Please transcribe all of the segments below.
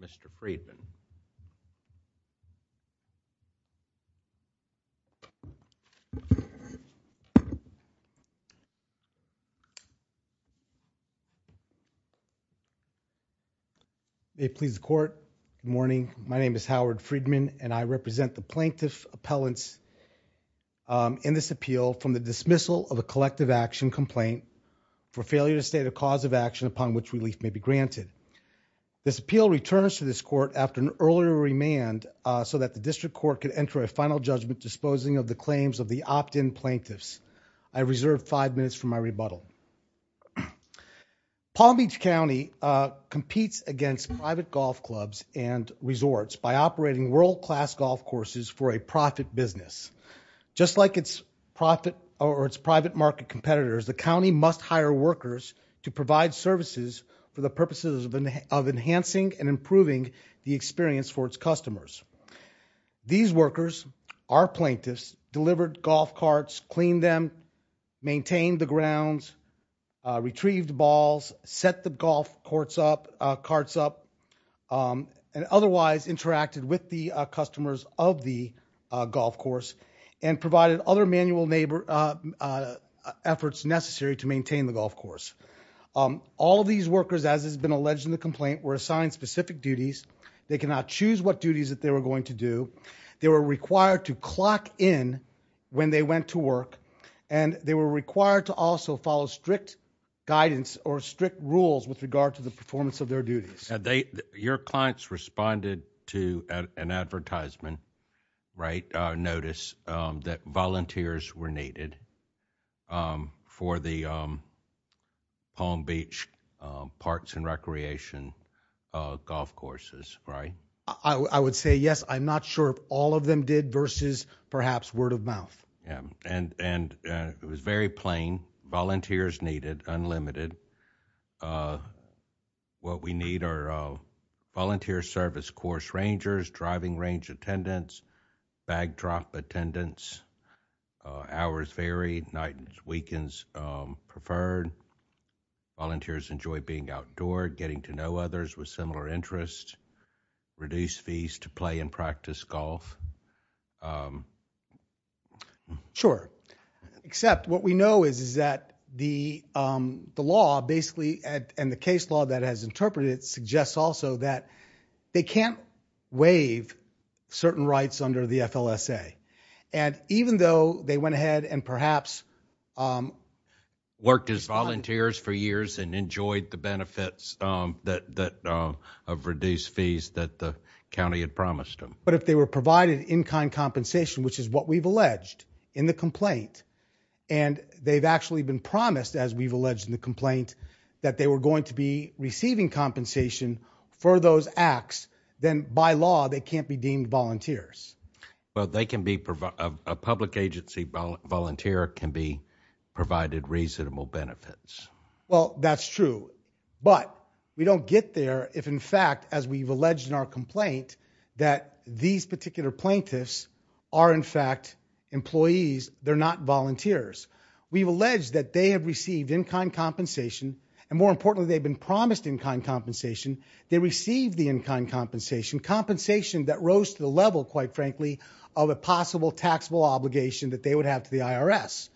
Mr. Friedman They please the court morning. My name is Howard Friedman and I represent the plaintiff appellants in this appeal from the dismissal of a collective action complaint for failure to state a cause of action upon which relief may be granted. This appeal returns to this court after an earlier remand so that the district court could enter a final judgment disposing of the claims of the opt-in plaintiffs. I reserve five minutes for my rebuttal. Palm Beach County competes against private golf clubs and resorts by operating world-class golf courses for a profit business. Just like its profit or its private market competitors, the county must hire workers to provide services for the purposes of enhancing and improving the experience for its customers. These workers, our plaintiffs, delivered golf carts, cleaned them, maintained the grounds, retrieved balls, set the golf carts up, and otherwise interacted with the customers of the golf course and provided other manual efforts necessary to maintain the golf course. All of these workers, as has been alleged in the complaint, were assigned specific duties. They cannot choose what duties that they were going to do. They were required to clock in when they went to work and they were required to also follow strict guidance or strict rules with regard to the performance of their duties. Your clients responded to an advertisement, right, notice that volunteers were needed for the Palm Beach Parks and Recreation golf courses, right? I would say yes. I'm not sure if all of them did versus perhaps word-of-mouth. Yeah, and it was very plain. Volunteers needed, unlimited. What we need are volunteer service course rangers, driving range attendants, bag drop attendants, hours varied, night and weekends preferred. Volunteers enjoy being outdoor, getting to know others with similar interests, reduce fees to play and practice golf. Sure, except what we know is that the law basically and the case law that has interpreted suggests also that they can't waive certain rights under the FLSA and even though they went ahead and perhaps worked as volunteers for years and enjoyed the benefits of reduced fees that the county had promised them. But if they were provided in-kind compensation, which is what we've alleged in the complaint, and they've actually been promised as we've alleged in the for those acts, then by law they can't be deemed volunteers. Well, they can be provided, a public agency volunteer can be provided reasonable benefits. Well, that's true, but we don't get there if in fact, as we've alleged in our complaint, that these particular plaintiffs are in fact employees, they're not volunteers. We've alleged that they have received in-kind compensation and more they received the in-kind compensation, compensation that rose to the level, quite frankly, of a possible taxable obligation that they would have to the IRS.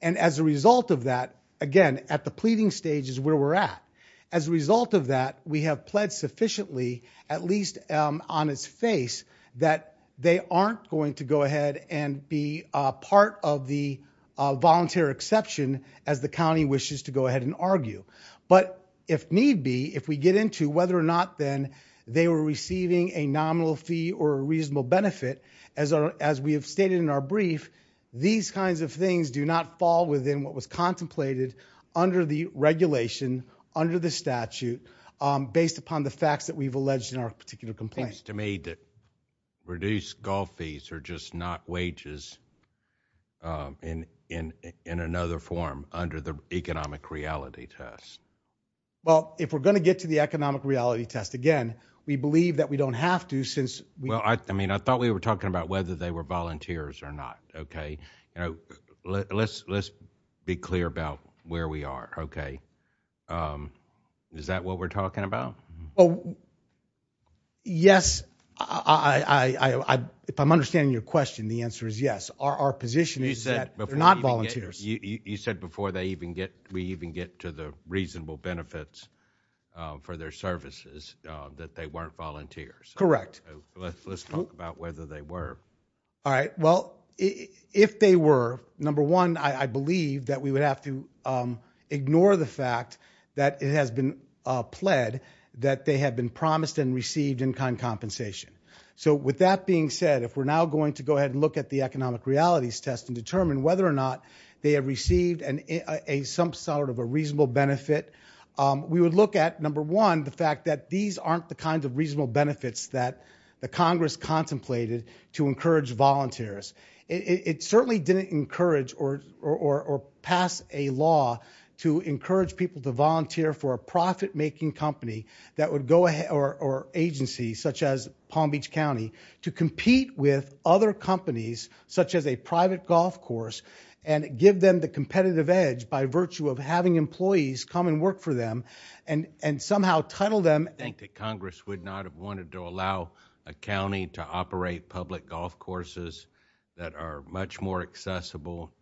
And as a result of that, again, at the pleading stage is where we're at. As a result of that, we have pled sufficiently, at least on its face, that they aren't going to go ahead and be a part of the volunteer exception as the county wishes to go ahead and argue. But if need be, if we get into whether or not then they were receiving a nominal fee or a reasonable benefit, as we have stated in our brief, these kinds of things do not fall within what was contemplated under the regulation, under the statute, based upon the facts that we've alleged in our particular complaint. It seems to me that reduced golf fees are just not wages in another form under the economic reality test. Well, if we're going to get to the economic reality test, again, we believe that we don't have to since... Well, I mean, I thought we were talking about whether they were volunteers or not, okay? You know, let's be clear about where we are, okay? Is that what we're talking about? Oh, yes. If I'm understanding your question, the answer is yes. Our position is that they're not volunteers. You said before we even get to the reasonable benefits for their services, that they weren't volunteers. Correct. Let's talk about whether they were. All right, well, if they were, number one, I believe that we would have to ignore the fact that it has been pled that they have been promised and received in-kind compensation. So with that being said, if we're now going to go ahead and look at the economic realities test and determine whether or not they have received some sort of a reasonable benefit, we would look at, number one, the fact that these aren't the kinds of reasonable benefits that the Congress contemplated to encourage volunteers. It certainly didn't encourage or pass a law to encourage people to volunteer for a profit-making company that would go ahead or agency such as Palm Beach County to compete with other companies such as a private golf course and give them the competitive edge by virtue of having employees come and work for them and somehow title them. I think that Congress would not have wanted to allow a county to operate public golf courses that are much more accessible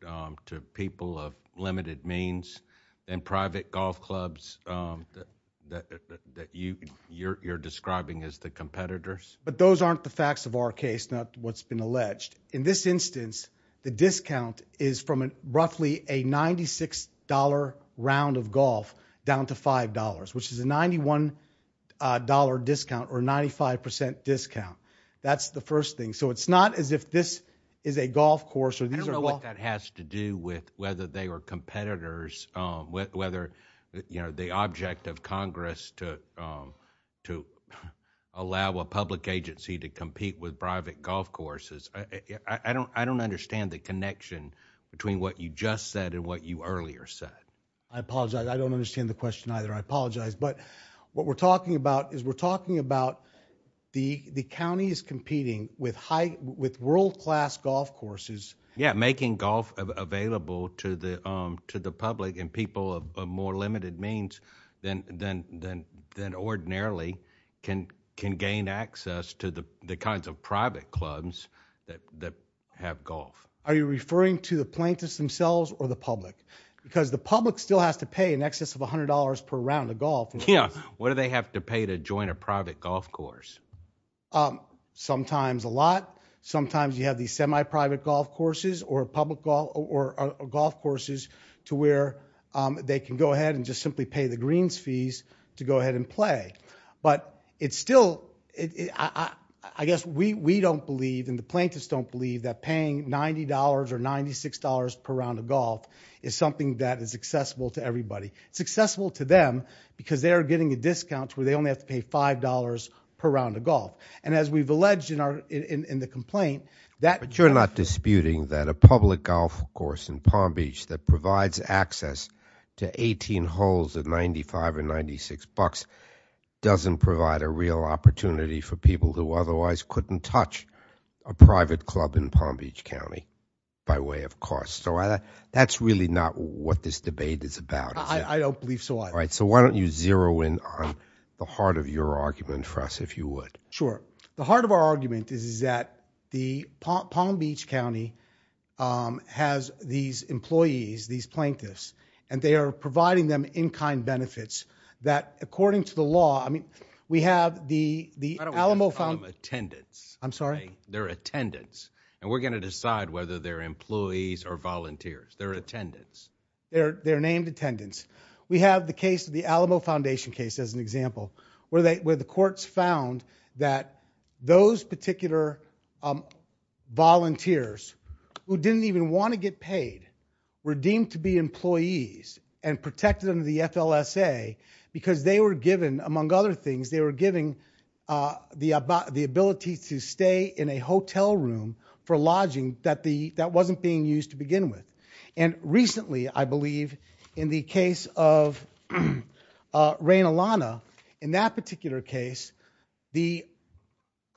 to people of limited means than private golf clubs that you're describing as the competitors. But those aren't the facts of our case, not what's been alleged. In this instance, the discount is from roughly a $96 round of golf down to $5, which is a $91 discount or 95% discount. That's the first thing. So it's not as if this is a golf course. I don't know what that has to do with whether they were competitors, whether the object of Congress to allow a public agency to compete with private golf courses. I don't understand the connection between what you just said and what you earlier said. I apologize. I don't understand the question either. I apologize. But what we're talking about is we're talking about the county is competing with world-class golf courses. Yeah, making golf available to the public and people of more limited means than ordinarily can gain access to the kinds of private clubs that have golf. Are you referring to the plaintiffs themselves or the public? Because the public still has to pay in excess of $100 per round of golf. Yeah, what do they have to pay to join a private golf course? Sometimes a lot. Sometimes you have these semi-private golf courses or golf courses to where they can go ahead and just simply pay the greens fees to go ahead and play. But I guess we don't believe and the plaintiffs don't believe that paying $90 or $96 per round of golf is something that is accessible to everybody. It's accessible to them because they are getting a $75 per round of golf. And as we've alleged in our in the complaint that... But you're not disputing that a public golf course in Palm Beach that provides access to 18 holes at $95 or $96 doesn't provide a real opportunity for people who otherwise couldn't touch a private club in Palm Beach County by way of cost. So that's really not what this debate is about. I don't believe so. All right, so why don't you zero in on the heart of your argument for us if you would. Sure. The heart of our argument is that the Palm Beach County has these employees, these plaintiffs, and they are providing them in-kind benefits that according to the law, I mean we have the Alamo... I don't want to call them attendants. I'm sorry. They're attendants and we're gonna decide whether they're employees or the Alamo Foundation case as an example, where the courts found that those particular volunteers who didn't even want to get paid were deemed to be employees and protected under the FLSA because they were given, among other things, they were given the ability to stay in a hotel room for lodging that wasn't being used to begin with. And recently, I believe, in the case of Raina Lana, in that particular case, the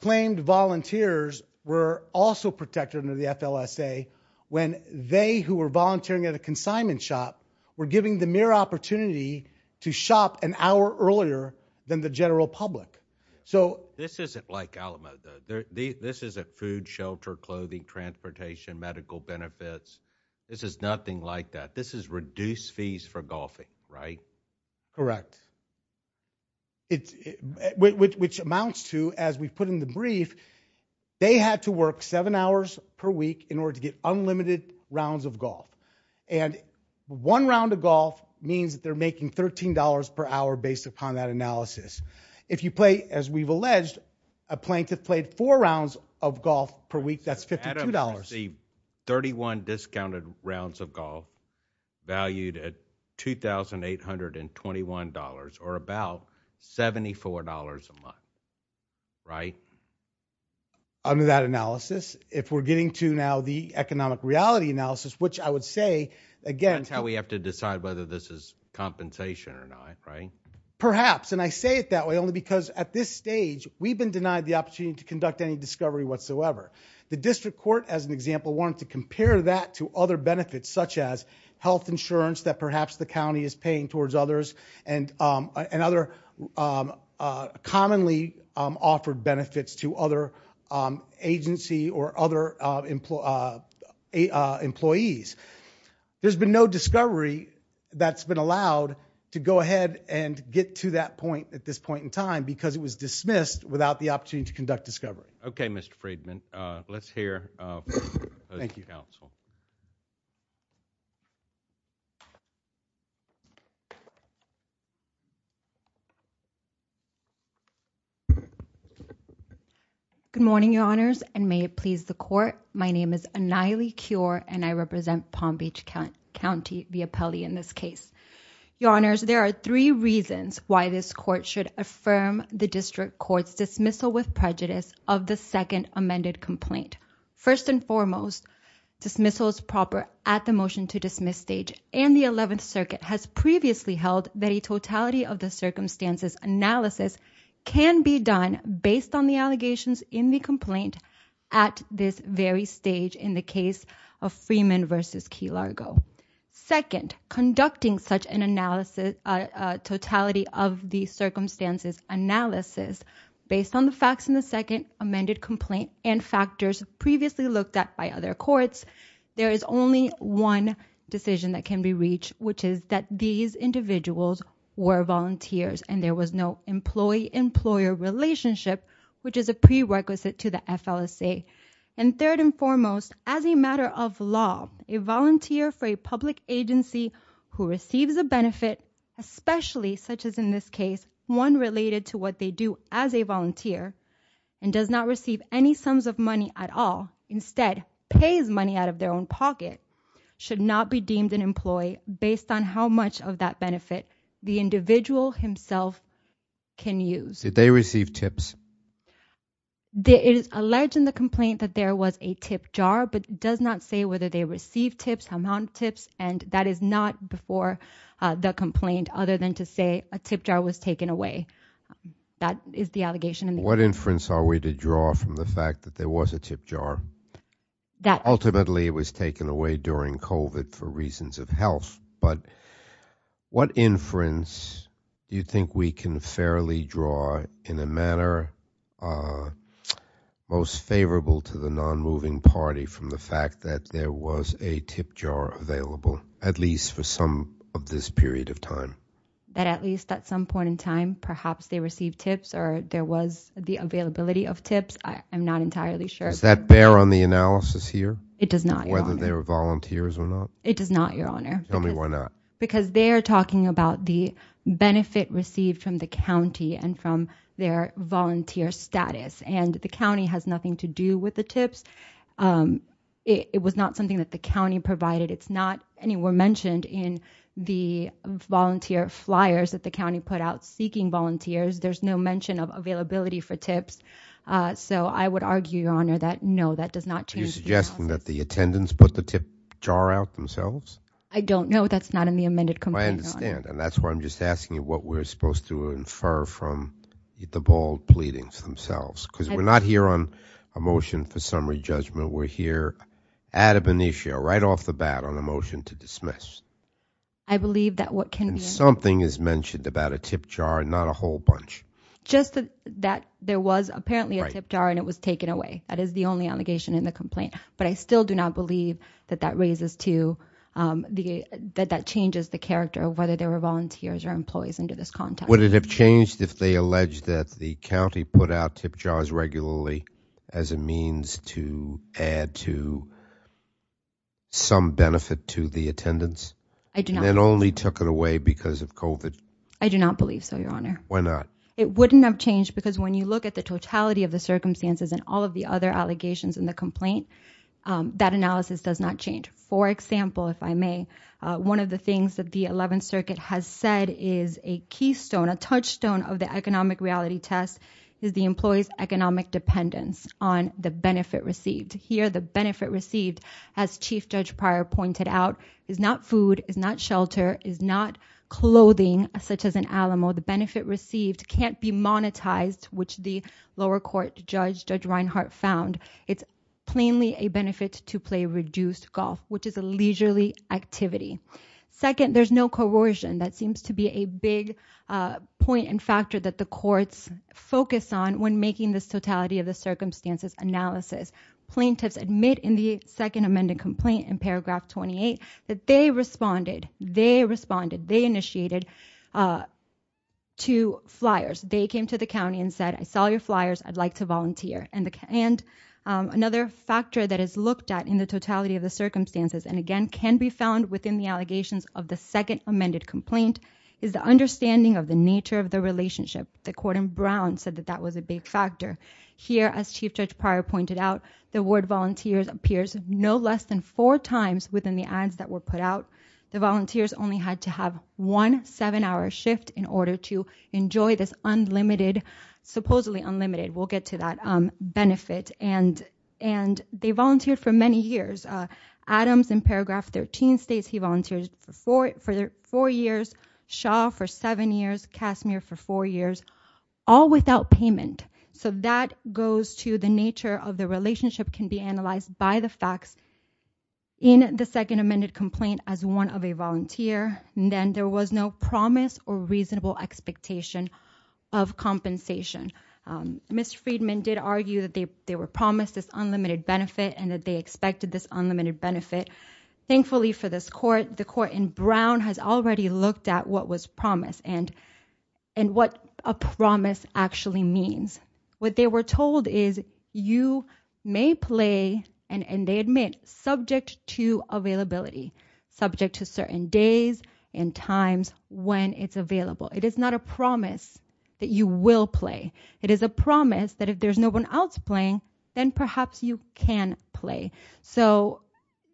claimed volunteers were also protected under the FLSA when they, who were volunteering at a consignment shop, were given the mere opportunity to shop an hour earlier than the general public. So this isn't like Alamo. This isn't food, shelter, clothing, transportation, medical benefits. This is nothing like that. This is reduced fees for golfing, right? Correct. It's, which amounts to, as we put in the brief, they had to work seven hours per week in order to get unlimited rounds of golf. And one round of golf means that they're making $13 per hour based upon that analysis. If you play, as we've alleged, a plaintiff played four rounds of golf per week, that's $52. The 31 discounted rounds of golf valued at $2,821, or about $74 a month, right? Under that analysis, if we're getting to now the economic reality analysis, which I would say, again, that's how we have to decide whether this is compensation or not, right? Perhaps, and I say it that way only because at this stage we've been denied the opportunity to conduct any discovery whatsoever. The district court, as an example, wanted to compare that to other benefits, such as health insurance that perhaps the county is paying towards others, and other commonly offered benefits to other agency or other employees. There's been no discovery that's been allowed to go ahead and get to that point at this point in time because it was dismissed without the Let's hear from the counsel. Good morning, your honors, and may it please the court. My name is Aniley Cure and I represent Palm Beach County, the appellee in this case. Your honors, there are three reasons why this court should affirm the district court's dismissal with prejudice of the second amended complaint. First and foremost, dismissal is proper at the motion to dismiss stage, and the 11th Circuit has previously held that a totality of the circumstances analysis can be done based on the allegations in the complaint at this very stage in the case of Freeman versus Key Largo. Second, conducting such an analysis, a totality of the circumstances analysis based on the facts in the second amended complaint and factors previously looked at by other courts, there is only one decision that can be reached, which is that these individuals were volunteers and there was no employee-employer relationship, which is a prerequisite to the FLSA. And third and foremost, as a matter of law, a volunteer for a public agency who is someone related to what they do as a volunteer and does not receive any sums of money at all, instead pays money out of their own pocket, should not be deemed an employee based on how much of that benefit the individual himself can use. Did they receive tips? It is alleged in the complaint that there was a tip jar, but it does not say whether they received tips, amount of tips, and that is not before the complaint other than to say a tip jar was taken away. That is the allegation in the What inference are we to draw from the fact that there was a tip jar that ultimately was taken away during COVID for reasons of health, but what inference do you think we can fairly draw in a manner most favorable to the non-moving party from the fact that there was a tip jar available, at least for some of this period of time? That at least at some point in time, perhaps they received tips or there was the availability of tips. I'm not entirely sure. Does that bear on the analysis here? It does not, Your Honor. Whether they were volunteers or not. It does not, Your Honor. Tell me why not. Because they're talking about the benefit received from the county and from their volunteer status and the county has nothing to do with the tips. It was not something that the county provided. It's not anywhere mentioned in the volunteer flyers that the county put out seeking volunteers. There's no mention of availability for tips. So I would argue, Your Honor, that no, that does not change. Are you suggesting that the attendants put the tip jar out themselves? I don't know. That's not in the amended complaint, Your Honor. I understand. And that's why I'm just asking you what we're supposed to infer from the bald pleadings themselves, because we're not here on a motion for summary judgment. We're here ad ab initio, right off the bat, on a motion to dismiss. I believe that what can be. Something is mentioned about a tip jar and not a whole bunch. Just that there was apparently a tip jar and it was taken away. That is the only allegation in the complaint. But I still do not believe that that raises to the, that that changes the character of whether there were volunteers or employees under this context. Would it have changed if they alleged that the county put out tip jars regularly as a means to add to. Some benefit to the attendance. I do not only took it away because of COVID. I do not believe so, Your Honor. Why not? It wouldn't have changed because when you look at the totality of the circumstances and all of the other allegations in the complaint, um, that analysis does not change. For example, if I may, uh, one of the things that the 11th circuit has said is a keystone, a touchstone of the economic reality test is the employee's economic dependence on the benefit received here. The benefit received as chief judge prior pointed out is not food is not shelter is not clothing such as an Alamo. The benefit received can't be monetized, which the lower court judge, judge Reinhart found it's. Plainly a benefit to play reduced golf, which is a leisurely activity. Second, there's no corrosion. That seems to be a big, uh, point and factor that the courts focus on when making this totality of the circumstances analysis plaintiffs admit in the second amended complaint in paragraph 28 that they responded, they responded, they initiated, uh, two flyers. They came to the county and said, I saw your flyers. I'd like to volunteer. And the, and, um, another factor that is looked at in the totality of the circumstances and again, can be found within the allegations of the second amended complaint is the understanding of the nature of the relationship. The court in Brown said that that was a big factor here. As chief judge prior pointed out, the word volunteers appears no less than four times within the ads that were put out. The volunteers only had to have one seven hour shift in order to enjoy this unlimited, supposedly unlimited. We'll get to that, um, benefit and, and they volunteered for many years. Uh, Adams in paragraph 13 states, he volunteered for four, for four years, Shaw for seven years, Casimir for four years, all without payment. So that goes to the nature of the relationship can be analyzed by the facts in the second amended complaint as one of a volunteer. And then there was no promise or reasonable expectation of compensation. Um, Mr. Friedman did argue that they, they were promised this unlimited benefit and that they expected this unlimited benefit. Thankfully for this court, the court in Brown has already looked at what was promised and, and what a promise actually means. What they were told is you may play and they admit subject to availability, subject to certain days and times when it's available. It is not a promise that you will play. It is a promise that if there's no one else playing, then perhaps you can play. So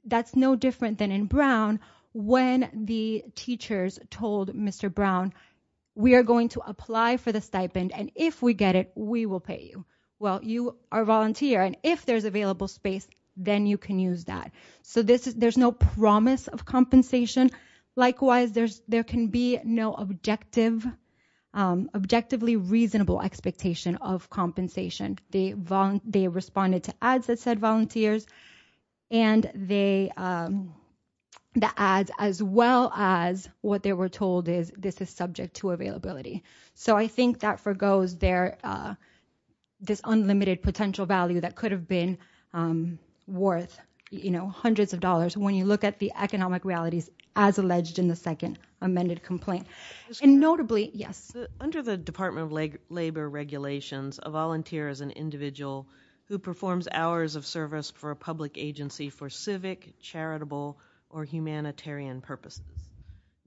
that's no different than in Brown when the teachers told Mr. Brown, we are going to apply for the stipend and if we get it, we will pay you. Well, you are volunteer and if there's available space, then you can use that. So this is, there's no promise of compensation. Likewise, there's, there can be no objective, um, objectively reasonable expectation of compensation. They respond, they responded to ads that said volunteers and they, um, the ads as well as what they were told is this is subject to availability. So I think that forgoes their, uh, this unlimited potential value that could have been, um, worth, you know, hundreds of dollars when you look at the economic realities as alleged in the second amended complaint and notably, yes. Under the department of leg labor regulations, a volunteer is an individual who performs hours of service for a public agency for civic charitable or humanitarian purposes.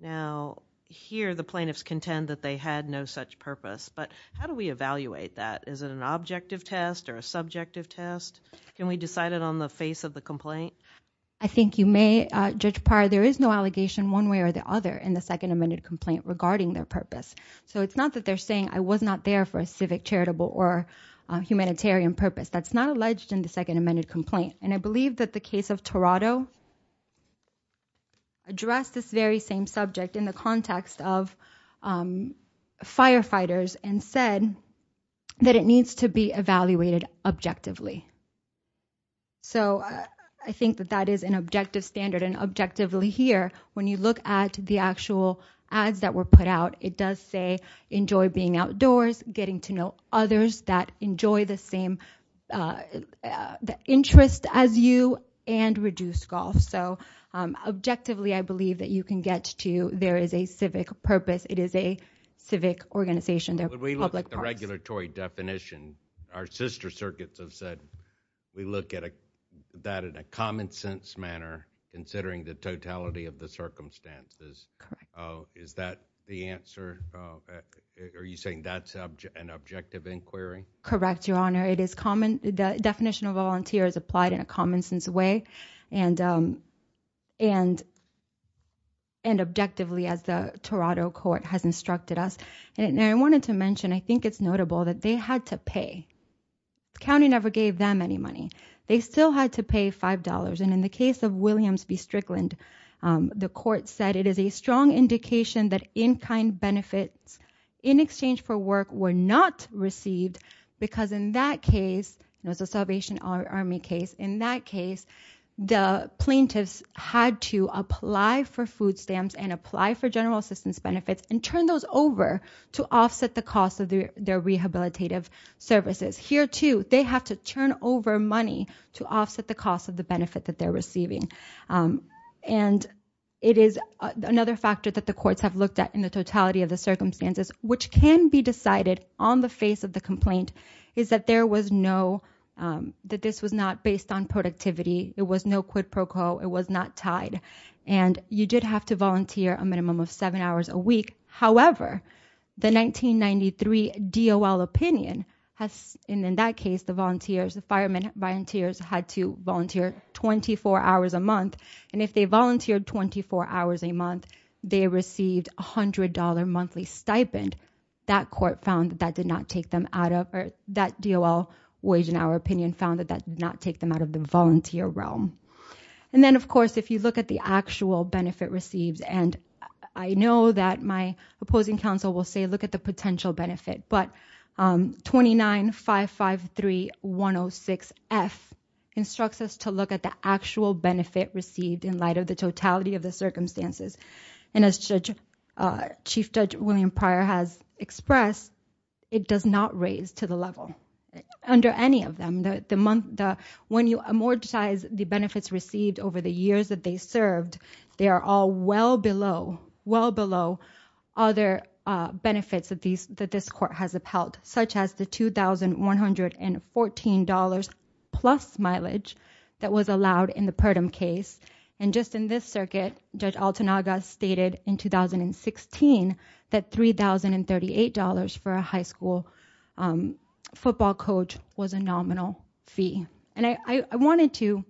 Now here, the plaintiffs contend that they had no such purpose, but how do we evaluate that? Is it an objective test or a subjective test? Can we decide it on the face of the complaint? I think you may, uh, judge prior, there is no allegation one way or the other in the second amended complaint regarding their purpose. So it's not that they're saying I was not there for a civic charitable or a humanitarian purpose. That's not alleged in the second amended complaint. And I believe that the case of Toronto addressed this very same subject in the context of, um, firefighters and said that it needs to be evaluated objectively. So I think that that is an objective standard and objectively here, when you look at the actual ads that were put out, it does say, enjoy being outdoors, getting to know others that enjoy the same, uh, uh, the interest as you and reduce golf. So, um, objectively, I believe that you can get to, there is a civic purpose. It is a civic organization. They're like the regulatory definition. Our sister circuits have said, we look at that in a common sense manner, considering the totality of the circumstances. Oh, is that the answer? Uh, are you saying that's an objective inquiry? Correct. Your honor, it is common. The definition of volunteer is applied in a common sense way. And, um, and, and objectively as the Toronto court has instructed us. And I wanted to mention, I think it's notable that they had to pay county, never gave them any money. They still had to pay $5. And in the case of Williams v Strickland, um, the court said it is a strong indication that in kind benefits in exchange for work were not received because in that case, it was a Salvation Army case. In that case, the plaintiffs had to apply for food stamps and apply for general assistance benefits and turn those over to offset the cost of their, their rehabilitative services here too. They have to turn over money to offset the cost of the benefit that they're receiving. Um, and it is another factor that the courts have looked at in the totality of the circumstances, which can be decided on the face of the complaint is that there was no, um, that this was not based on productivity. It was no quid pro quo. It was not tied. And you did have to volunteer a minimum of seven hours a week. However, the 1993 DOL opinion has in that case, the volunteers, the firemen volunteers had to volunteer 24 hours a month. And if they volunteered 24 hours a month, they received a hundred dollar monthly stipend that court found that that did not take them out of that DOL wage. And our opinion found that that did not take them out of the volunteer realm. And then of course, if you look at the actual benefit received, and I know that my opposing counsel will say, look at the potential benefit, but, um, 29 five, five, three, one Oh six F instructs us to look at the actual benefit received in light of the totality of the circumstances. And as judge, uh, chief judge William prior has expressed, it does not raise to the level under any of them. The, the month, the, when you amortize the benefits received over the years that they served, they are all well below, well below other, uh, benefits of these, that this court has upheld such as the $2,114 plus mileage that was allowed in the purdum case. And just in this circuit, judge Altenaga stated in 2016 that $3,038 for a high school, um, football coach was a nominal fee. And I, I wanted to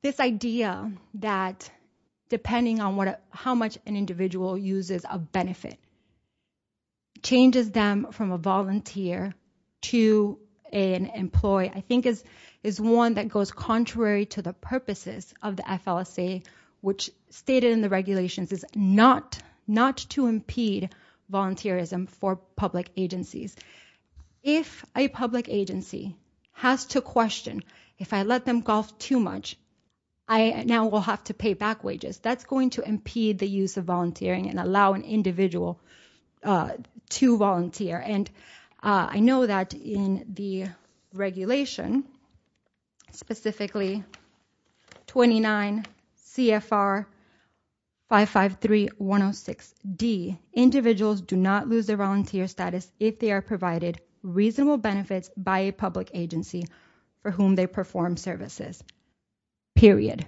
this idea that depending on what, how much an individual uses a benefit changes them from a volunteer to an employee, I think is, is one that goes contrary to the purposes of the FLSA, which stated in the regulations is not, not to impede volunteerism for public agencies. If a public agency has to question, if I let them golf too much, I now will have to pay back wages that's going to impede the use of volunteering and allow an individual, uh, to volunteer. And, uh, I know that in the regulation specifically 29 CFR 553106 D individuals do not lose their volunteer status if they are provided reasonable benefits by a public agency for whom they perform services period.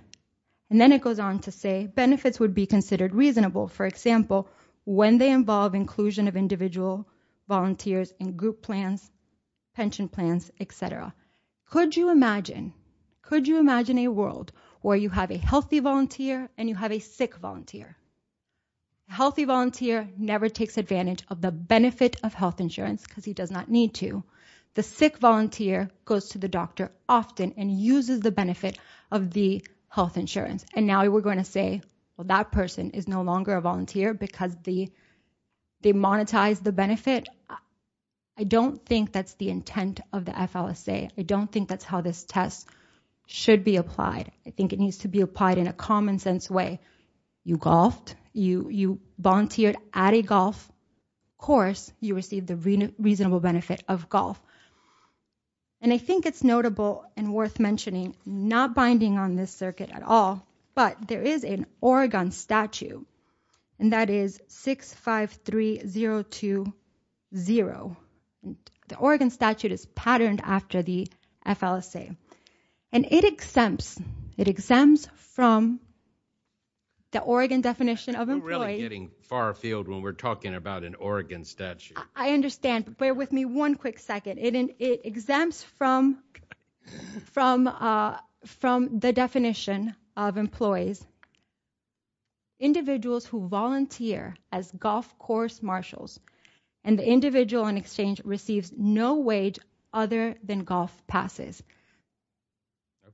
And then it goes on to say benefits would be considered reasonable. For example, when they involve inclusion of individual volunteers in group plans, pension plans, et cetera, could you imagine, could you imagine a world where you have a healthy volunteer and you have a sick volunteer, healthy volunteer never takes advantage of the benefit of health insurance because he does not need to, the sick volunteer goes to the doctor often and uses the benefit of the health insurance. And now we're going to say, well, that person is no longer a volunteer because the, they monetize the benefit. I don't think that's the intent of the FLSA. I don't think that's how this test should be applied. I think it needs to be applied in a common sense way. You golfed, you, you volunteered at a golf course, you received the reasonable benefit of golf. And I think it's notable and worth mentioning, not binding on this circuit at all, but there is an Oregon statute and that is 653020. The Oregon statute is patterned after the FLSA and it exempts, it exempts from the Oregon definition of employee getting far field when we're talking about an Oregon statute. I understand, but bear with me one quick second. It exempts from, from, uh, from the definition of employees, individuals who volunteer as golf course marshals and the individual in exchange receives no wage other than golf passes.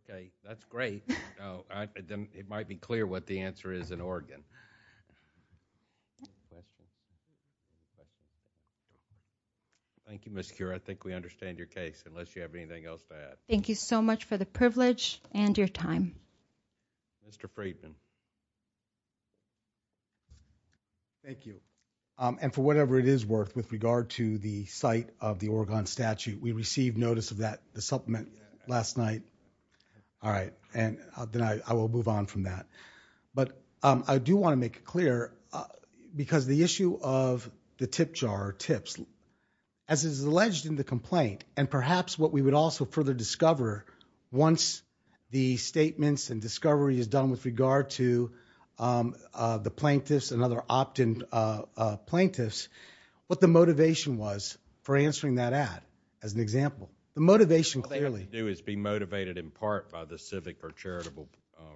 Okay. That's great. No, I didn't. It might be clear what the answer is in Oregon. Thank you. Miss cure. I think we understand your case unless you have anything else to add. Thank you so much for the privilege and your time. Mr. Friedman. Thank you. Um, and for whatever it is worth with regard to the site of the Oregon statute, we received notice of that, the supplement last night. All right. And then I, I will move on from that, but, um, I do want to make it clear because the issue of the tip jar tips as is alleged in the complaint and perhaps what we would also further discover once the statements and discovery is done with regard to, um, uh, the plaintiffs and other opt-in, uh, uh, plaintiffs, what the motivation was for answering that ad as an example, the motivation clearly to do is be motivated in part by the civic or charitable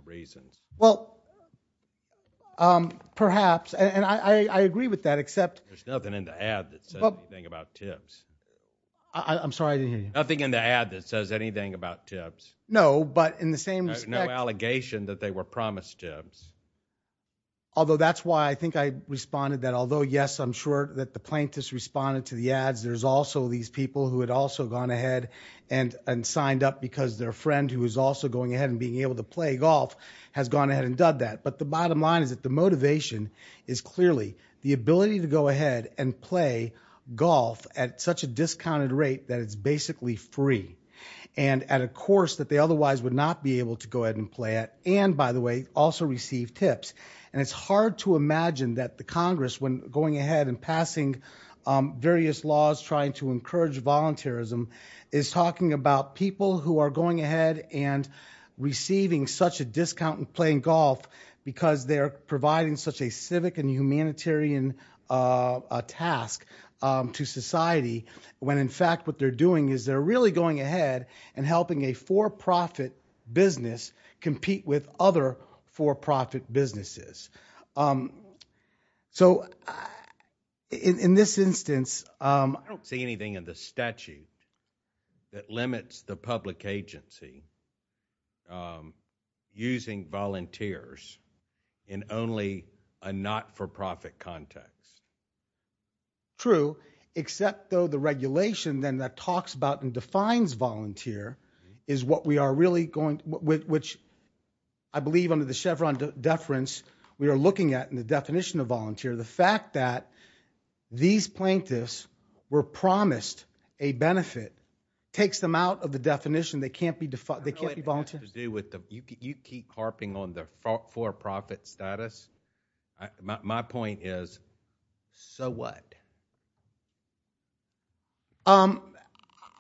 reasons. Well, um, perhaps, and I, I agree with that, except there's nothing in the ad that says anything about tips. I I'm sorry. I didn't hear you. Nothing in the ad that says anything about tips. No, but in the same, no allegation that they were promised tips. Although that's why I think I responded that although yes, I'm sure that the plaintiffs responded to the ads, there's also these people who had also gone ahead and, and signed up because their friend who is also going ahead and being able to play golf has gone ahead and done that. But the bottom line is that the motivation is clearly the ability to go ahead and play golf at such a discounted rate that it's basically free and at a course that they otherwise would not be able to go ahead and play at, and by the way, also receive tips, and it's hard to imagine that the Congress, when going ahead and is talking about people who are going ahead and receiving such a discount and playing golf because they're providing such a civic and humanitarian, uh, task, um, to society when in fact, what they're doing is they're really going ahead and helping a for-profit business compete with other for-profit businesses. Um, so in this instance, um, I don't see anything in the statute. That limits the public agency, um, using volunteers in only a not-for-profit context. True, except though the regulation then that talks about and defines volunteer is what we are really going with, which I believe under the Chevron deference, we are looking at in the definition of volunteer. The fact that these plaintiffs were promised a benefit takes them out of the definition. They can't be, they can't be volunteers. To do with the, you keep harping on the for-profit status. My point is, so what? Um,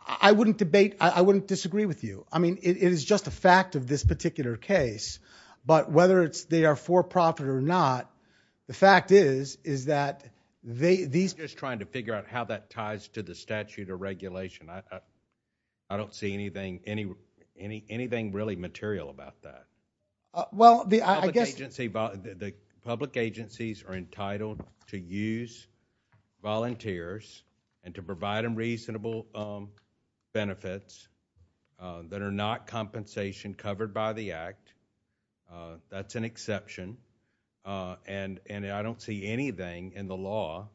I wouldn't debate, I wouldn't disagree with you. I mean, it is just a fact of this particular case, but whether it's, they are for-profit or not, the fact is, is that they, these just trying to figure out how that ties to the statute or regulation. I, I don't see anything, any, any, anything really material about that. Well, the, I guess the public agencies are entitled to use volunteers and to provide them reasonable, um, benefits, uh, that are not compensation covered by the act, uh, that's an exception. Uh, and, and I don't see anything in the law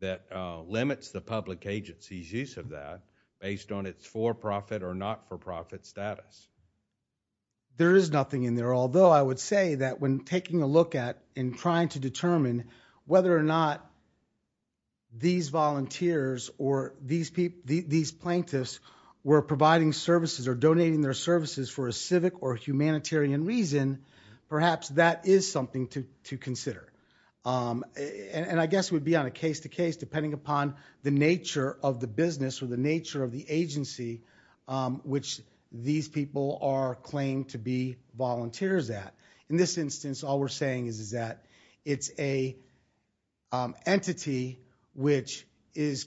that, uh, limits the public agency's use of that based on its for-profit or not for-profit status. There is nothing in there. Although I would say that when taking a look at and trying to determine whether or not these volunteers or these people, these plaintiffs were providing services or donating their services for a civic or humanitarian reason, perhaps that is something to, to consider. Um, and I guess it would be on a case to case, depending upon the nature of the business or the nature of the agency, um, which these people are claimed to be volunteers at. In this instance, all we're saying is, is that it's a, um, entity which is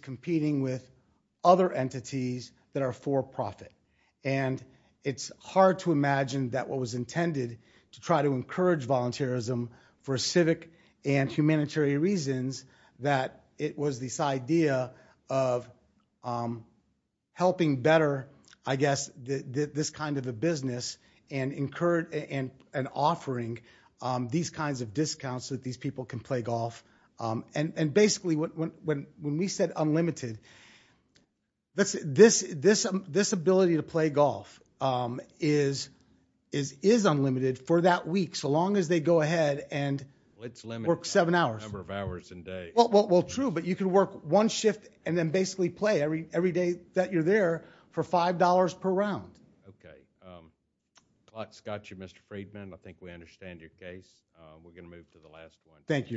it's hard to imagine that what was intended to try to encourage volunteerism for a civic and humanitarian reasons, that it was this idea of, um, helping better, I guess, the, the, this kind of a business and incurred and, and offering, um, these kinds of discounts that these people can play golf, um, and, and basically when, when, when we said unlimited, let's this, this, this ability to play golf, um, is, is, is unlimited for that week, so long as they go ahead and work seven hours, a number of hours a day. Well, well, well, true, but you can work one shift and then basically play every, every day that you're there for $5 per round. Okay. Um, Scott, you, Mr. Friedman, I think we understand your case. Uh, we're going to move to the last one. Thank you.